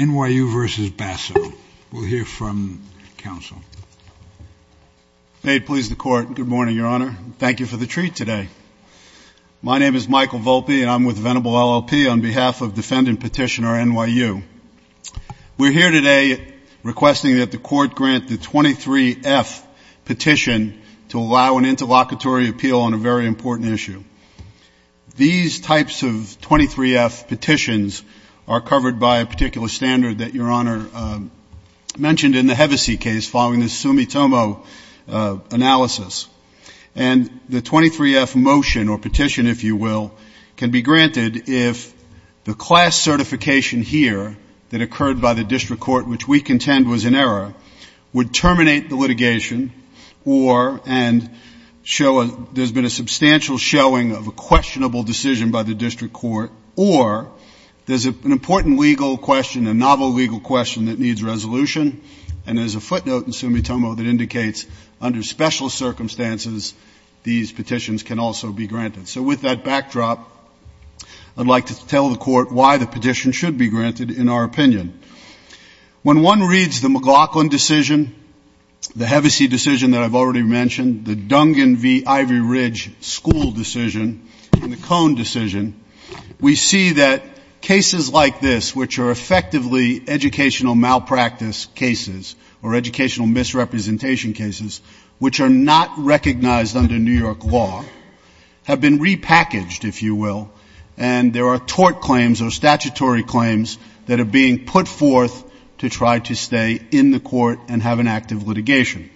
N.Y.U. v. Basso. We'll hear from counsel. May it please the Court. Good morning, Your Honor. Thank you for the treat today. My name is Michael Volpe and I'm with Venable LLP on behalf of defendant petitioner N.Y.U. We're here today requesting that the Court grant the 23F petition to allow an interlocutory appeal on a very important issue. These types of 23F petitions are covered by a particular standard that Your Honor mentioned in the Hevesi case following the Sumitomo analysis. And the 23F motion or petition, if you will, can be granted if the class certification here that occurred by the District Court, which we contend was in error, would terminate the litigation or there's been a substantial showing of a questionable decision by the District Court or there's an important legal question, a novel legal question that needs resolution. And there's a footnote in Sumitomo that indicates under special circumstances, these petitions can also be granted. So with that backdrop, I'd like to tell the Court why the petition should be granted in our opinion. When one reads the McLaughlin decision, the Hevesi decision that I've already mentioned, the Dungan v. Ivory Ridge school decision and the Cohn decision, we see that cases like this, which are effectively educational malpractice cases or educational misrepresentation cases, which are not recognized under New York law, have been repackaged, if you will, and there are tort claims or statutory claims that are being put forth to try to stay in the court and have an active litigation.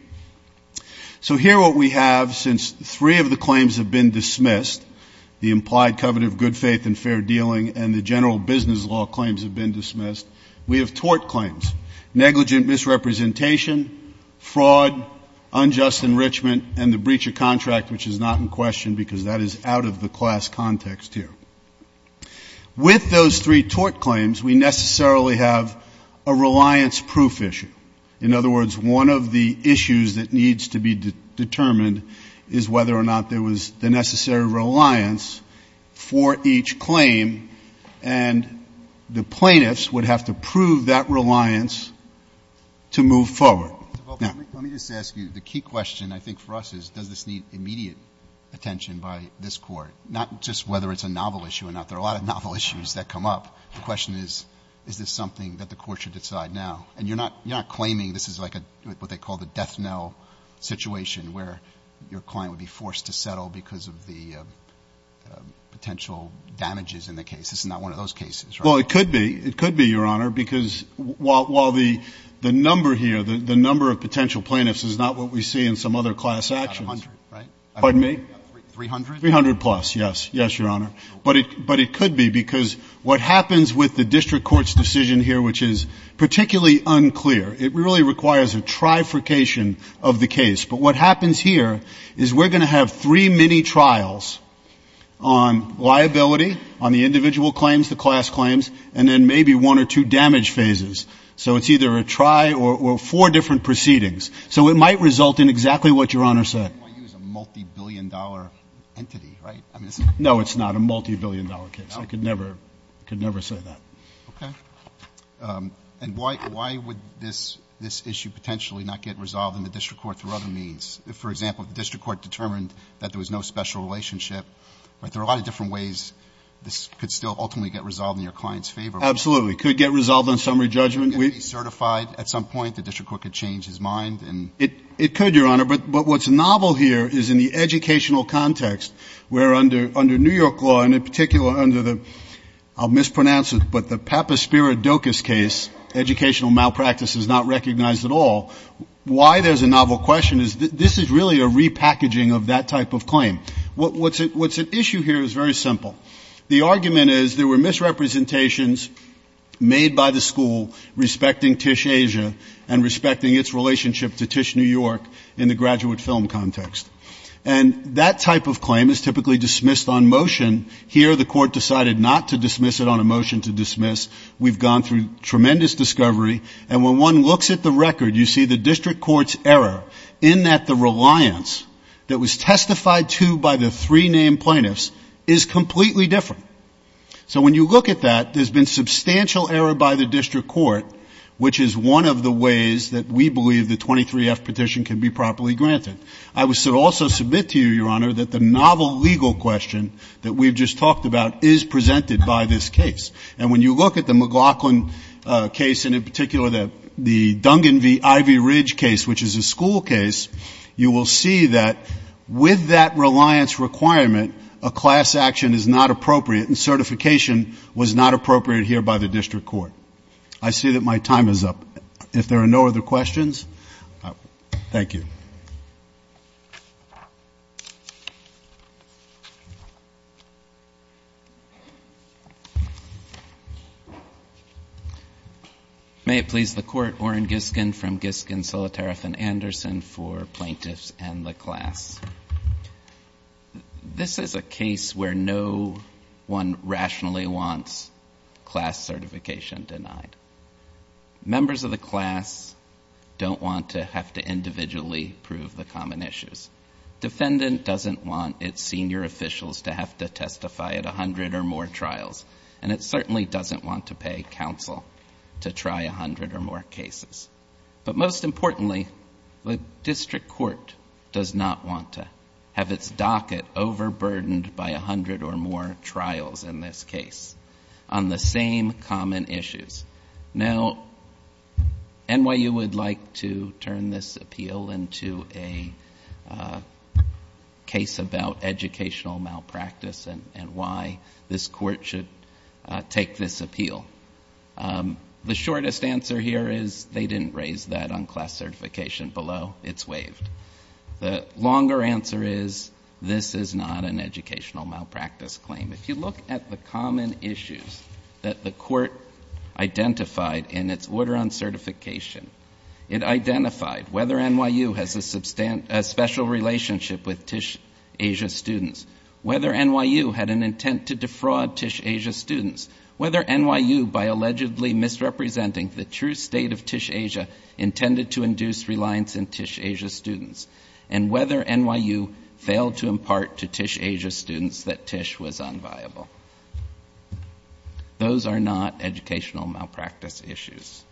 So here what we have, since three of the claims have been dismissed, the implied covet of good faith and fair dealing and the general business law claims have been dismissed, we have tort claims, negligent misrepresentation, fraud, unjust enrichment, and the breach of contract, which is not in question because that is out of the class context here. With those three tort claims, we necessarily have a reliance proof issue. In other words, one of the issues that needs to be determined is whether or not there was the necessary reliance for each claim, and the plaintiffs would have to prove that reliance to move forward. Now let me just ask you, the key question I think for us is does this need immediate attention by this Court, not just whether it's a novel issue or not? There are a lot of novel issues that come up. The question is, is this something that the courts should decide now? And you're not claiming this is like what they call the death knell situation where your client would be forced to settle because of the potential damages in the case. This is not one of those cases, right? Well, it could be. It could be, Your Honor, because while the number here, the number of potential plaintiffs is not what we see in some other class actions. About 100, right? Pardon me? 300? 300 plus, yes. Yes, Your Honor. But it could be because what happens with the district court's decision here, which is particularly unclear, it really requires a trifurcation of the case. But what happens here is we're going to have three mini-trials on liability, on the individual claims, the class claims, and then maybe one or two damage phases. So it's either a try or four different proceedings. So it might result in exactly what Your Honor said. It might use a multibillion-dollar entity, right? No, it's not a multibillion-dollar case. I could never say that. Okay. And why would this issue potentially not get resolved in the district court through other means? If, for example, the district court determined that there was no special relationship, there are a lot of different ways this could still ultimately get resolved in your client's favor. Absolutely. It could get resolved on summary judgment. It could be certified at some point. The district court could change his mind. It could, Your Honor. But what's novel here is in the educational context, where under New York law, and in particular under the, I'll mispronounce it, but the Papaspiridocus case, educational malpractice is not recognized at all, why there's a novel question is this is really a repackaging of that type of claim. What's at issue here is very simple. The argument is there were misrepresentations made by the school respecting TISH Asia and respecting its relationship to TISH New York in the graduate film context. And that type of claim is typically dismissed on motion. Here the court decided not to dismiss it on a motion to dismiss. We've gone through tremendous discovery. And when one looks at the record, you see the district court's error in that the reliance that was testified to by the three named plaintiffs is completely different. So when you look at that, there's been substantial error by the district court, which is one of the ways that we believe the 23F petition can be properly granted. I would also submit to you, Your Honor, that the novel legal question that we've just talked about is presented by this case. And when you look at the McLaughlin case, and in particular the Dungan v. Ivy Ridge case, which is a school case, you will see that with that reliance requirement, a class action is not appropriate and certification was not appropriate here by the district court. I see that my time is up. If there are no other questions, thank you. May it please the Court, I have a motion from Giskins, Solitareff, and Anderson for plaintiffs and the class. This is a case where no one rationally wants class certification denied. Members of the class don't want to have to individually prove the common issues. Defendant doesn't want its senior officials to have to testify at a hundred or more trials. And it certainly doesn't want to pay counsel to try a hundred or more cases. But most importantly, the district court does not want to have its docket overburdened by a hundred or more trials in this case on the same common issues. Now, NYU would like to turn this appeal into a case about educational malpractice and why this court should take this appeal. The shortest answer here is they didn't raise that on class certification below. It's waived. The longer answer is this is not an educational malpractice claim. If you look at the common issues that the court identified in its order on certification, it identified whether NYU has a special relationship with TISH-Asia students, whether NYU had an intent to defraud TISH-Asia students, whether NYU, by allegedly misrepresenting the true state of TISH-Asia, intended to induce reliance in TISH-Asia students, and whether NYU failed to impart to TISH-Asia students that TISH was unviable. Those are not educational malpractice issues.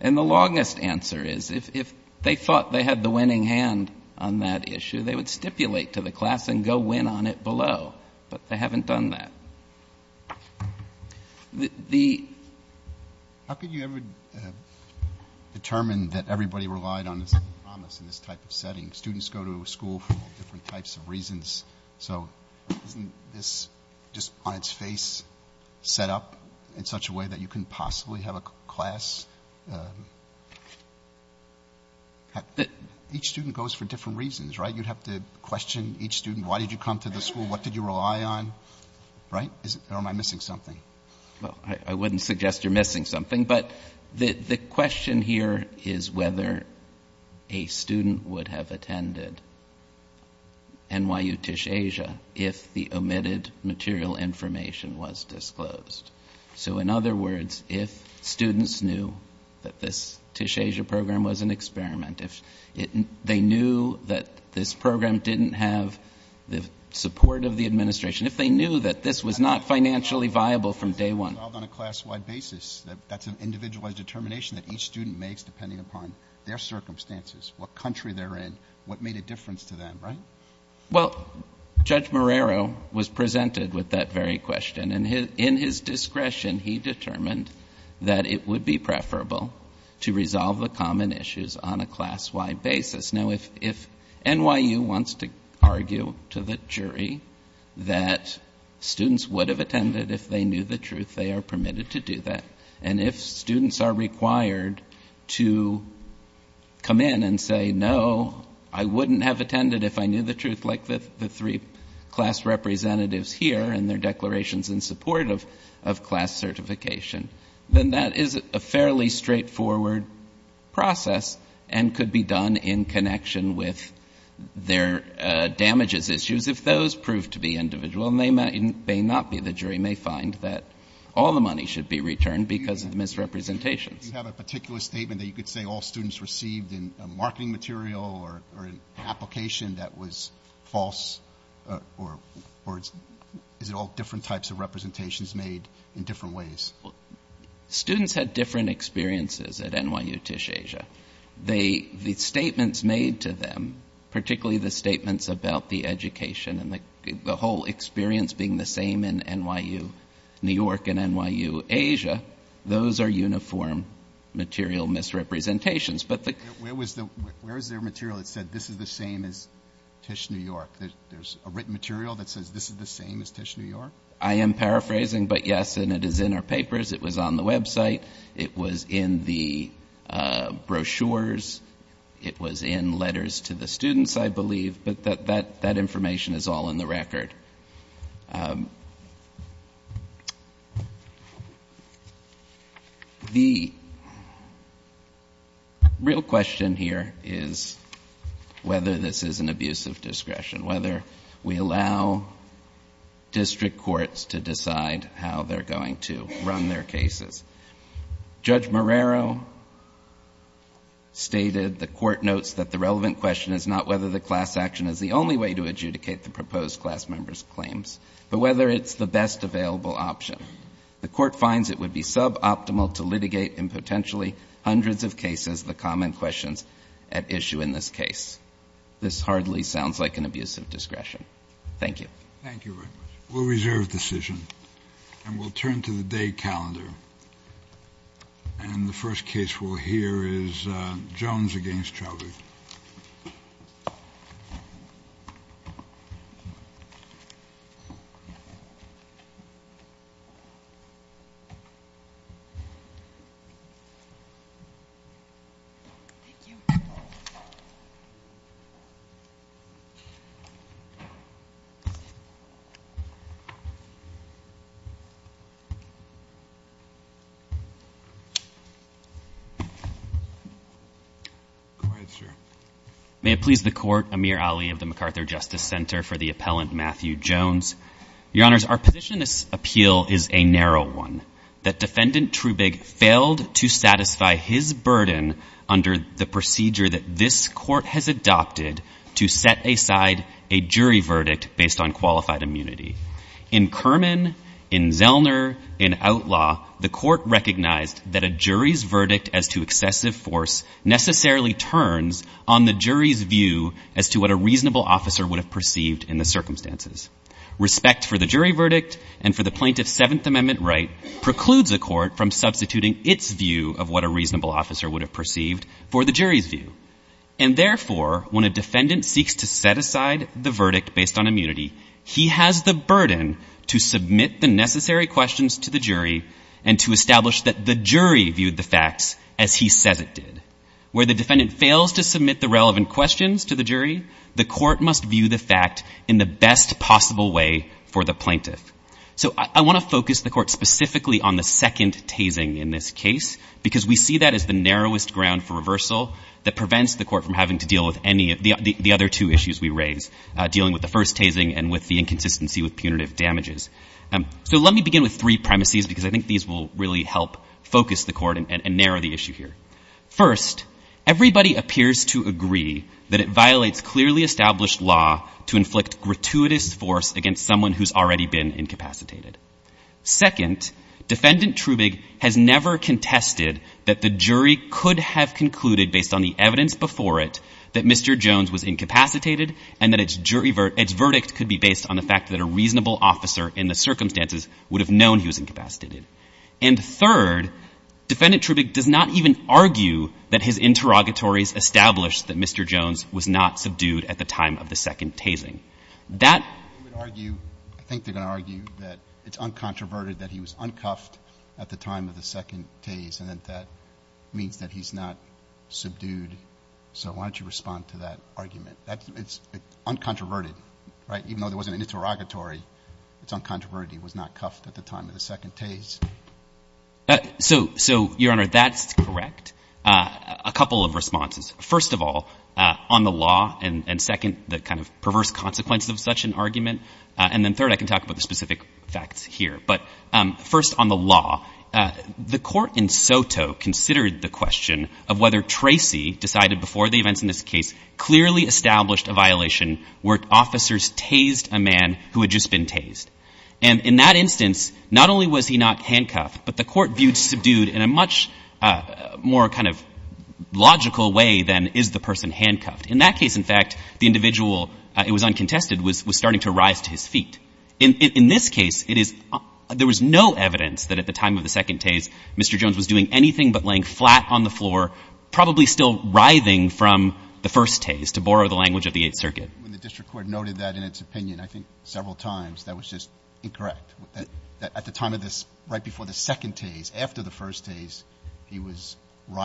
And the longest answer is if they thought they had the winning hand on that issue, they would stipulate to the class and go win on it below. But they haven't done that. The ‑‑ How could you ever determine that everybody relied on the same promise in this type of setting? Students go to a school for different types of reasons. So isn't this just on its face set up in such a way that you couldn't possibly have a class? Each student goes for different reasons, right? You'd have to question each student, why did you come to this school? What did you rely on? Right? Or am I missing something? Well, I wouldn't suggest you're missing something. But the question here is whether a student would have attended NYU TISH-Asia if the omitted material information was disclosed. So in other words, if students knew that this TISH-Asia program was an experiment, if they knew that this program didn't have the support of the administration, if they knew that this was not financially viable from day one. On a class‑wide basis, that's an individualized determination that each student makes depending upon their circumstances, what country they're in, what made a difference to them, right? Well, Judge Marrero was presented with that very question. And in his discretion, he determined that it would be preferable to resolve the common issues on a class‑wide basis. Now, if NYU wants to argue to the jury that students would have attended if they knew the truth, they are permitted to do that. And if students are required to come in and say, no, I wouldn't have attended if I knew the truth like the three class representatives here and their declarations in support of class certification, then that is a fairly straightforward process and could be done in connection with their damages issues if those prove to be individual. And they may not be. The jury may find that all the money should be returned because of misrepresentations. You have a particular statement that you could say all students received in that was false or is it all different types of representations made in different ways? Well, students had different experiences at NYU Tisch Asia. The statements made to them, particularly the statements about the education and the whole experience being the same in NYU, New York and NYU Asia, those are uniform material misrepresentations. Where is there material that said this is the same as Tisch New York? There's a written material that says this is the same as Tisch New York? I am paraphrasing, but yes, and it is in our papers. It was on the website. It was in the brochures. It was in letters to the students, I believe. But that information is all in the record. The real question here is whether this is an abuse of discretion, whether we allow district courts to decide how they're going to run their cases. Judge Marrero stated the court notes that the relevant question is not whether the class action is the only way to adjudicate the proposed class member's claims, but whether it's the best available option. The court finds it would be suboptimal to litigate in potentially hundreds of cases the common questions at issue in this case. This hardly sounds like an abuse of discretion. Thank you. Thank you very much. We'll reserve decision, and we'll turn to the day calendar. And the first case we'll hear is Jones against Chauvet. Go ahead, sir. May it please the court, Amir Ali of the MacArthur Justice Center for the Appellant Matthew Jones. Your Honors, our position in this appeal is a narrow one, that Defendant Trubig failed to satisfy his burden under the procedure that this court has adopted to set aside a jury verdict based on qualified immunity. In Kerman, in Zellner, in Outlaw, the court recognized that a jury's verdict as to excessive force necessarily turns on the jury's view as to what a reasonable officer would have perceived in the circumstances. Respect for the jury verdict and for the plaintiff's Seventh Amendment right precludes a court from substituting its view of what a reasonable officer would have perceived for the jury's view. And therefore, when a defendant seeks to set aside the verdict based on that burden to submit the necessary questions to the jury and to establish that the jury viewed the facts as he says it did, where the defendant fails to submit the relevant questions to the jury, the court must view the fact in the best possible way for the plaintiff. So I want to focus the court specifically on the second tasing in this case because we see that as the narrowest ground for reversal that prevents the court from having to deal with any of the other two issues we raise, dealing with the first tasing and with the inconsistency with punitive damages. So let me begin with three premises because I think these will really help focus the court and narrow the issue here. First, everybody appears to agree that it violates clearly established law to inflict gratuitous force against someone who has already been incapacitated. Second, Defendant Trubig has never contested that the jury could have concluded, based on the evidence before it, that Mr. Jones was incapacitated and that its verdict could be based on the fact that a reasonable officer in the circumstances would have known he was incapacitated. And third, Defendant Trubig does not even argue that his interrogatories established that Mr. Jones was not subdued at the time of the second tasing. That — I think they're going to argue that it's uncontroverted that he was uncuffed at the time of the second tase and that that means that he's not subdued. So why don't you respond to that argument? It's uncontroverted, right? Even though there wasn't an interrogatory, it's uncontroverted he was not cuffed at the time of the second tase. So, Your Honor, that's correct. A couple of responses. First of all, on the law, and second, the kind of perverse consequences of such an argument, and then third, I can talk about the specific facts here. But first, on the law, the court in Soto considered the question of whether Tracy decided before the events in this case clearly established a violation where officers tased a man who had just been tased. And in that instance, not only was he not handcuffed, but the court viewed subdued in a much more kind of logical way than is the person handcuffed. In that case, in fact, the individual, it was uncontested, was starting to rise to his feet. In this case, it is — there was no evidence that at the time of the second tase Mr. Jones was doing anything but laying flat on the floor, probably still writhing from the first tase, to borrow the language of the Eighth Circuit. When the district court noted that in its opinion, I think several times, that was just incorrect. At the time of this, right before the second tase, after the first tase, he was writhing.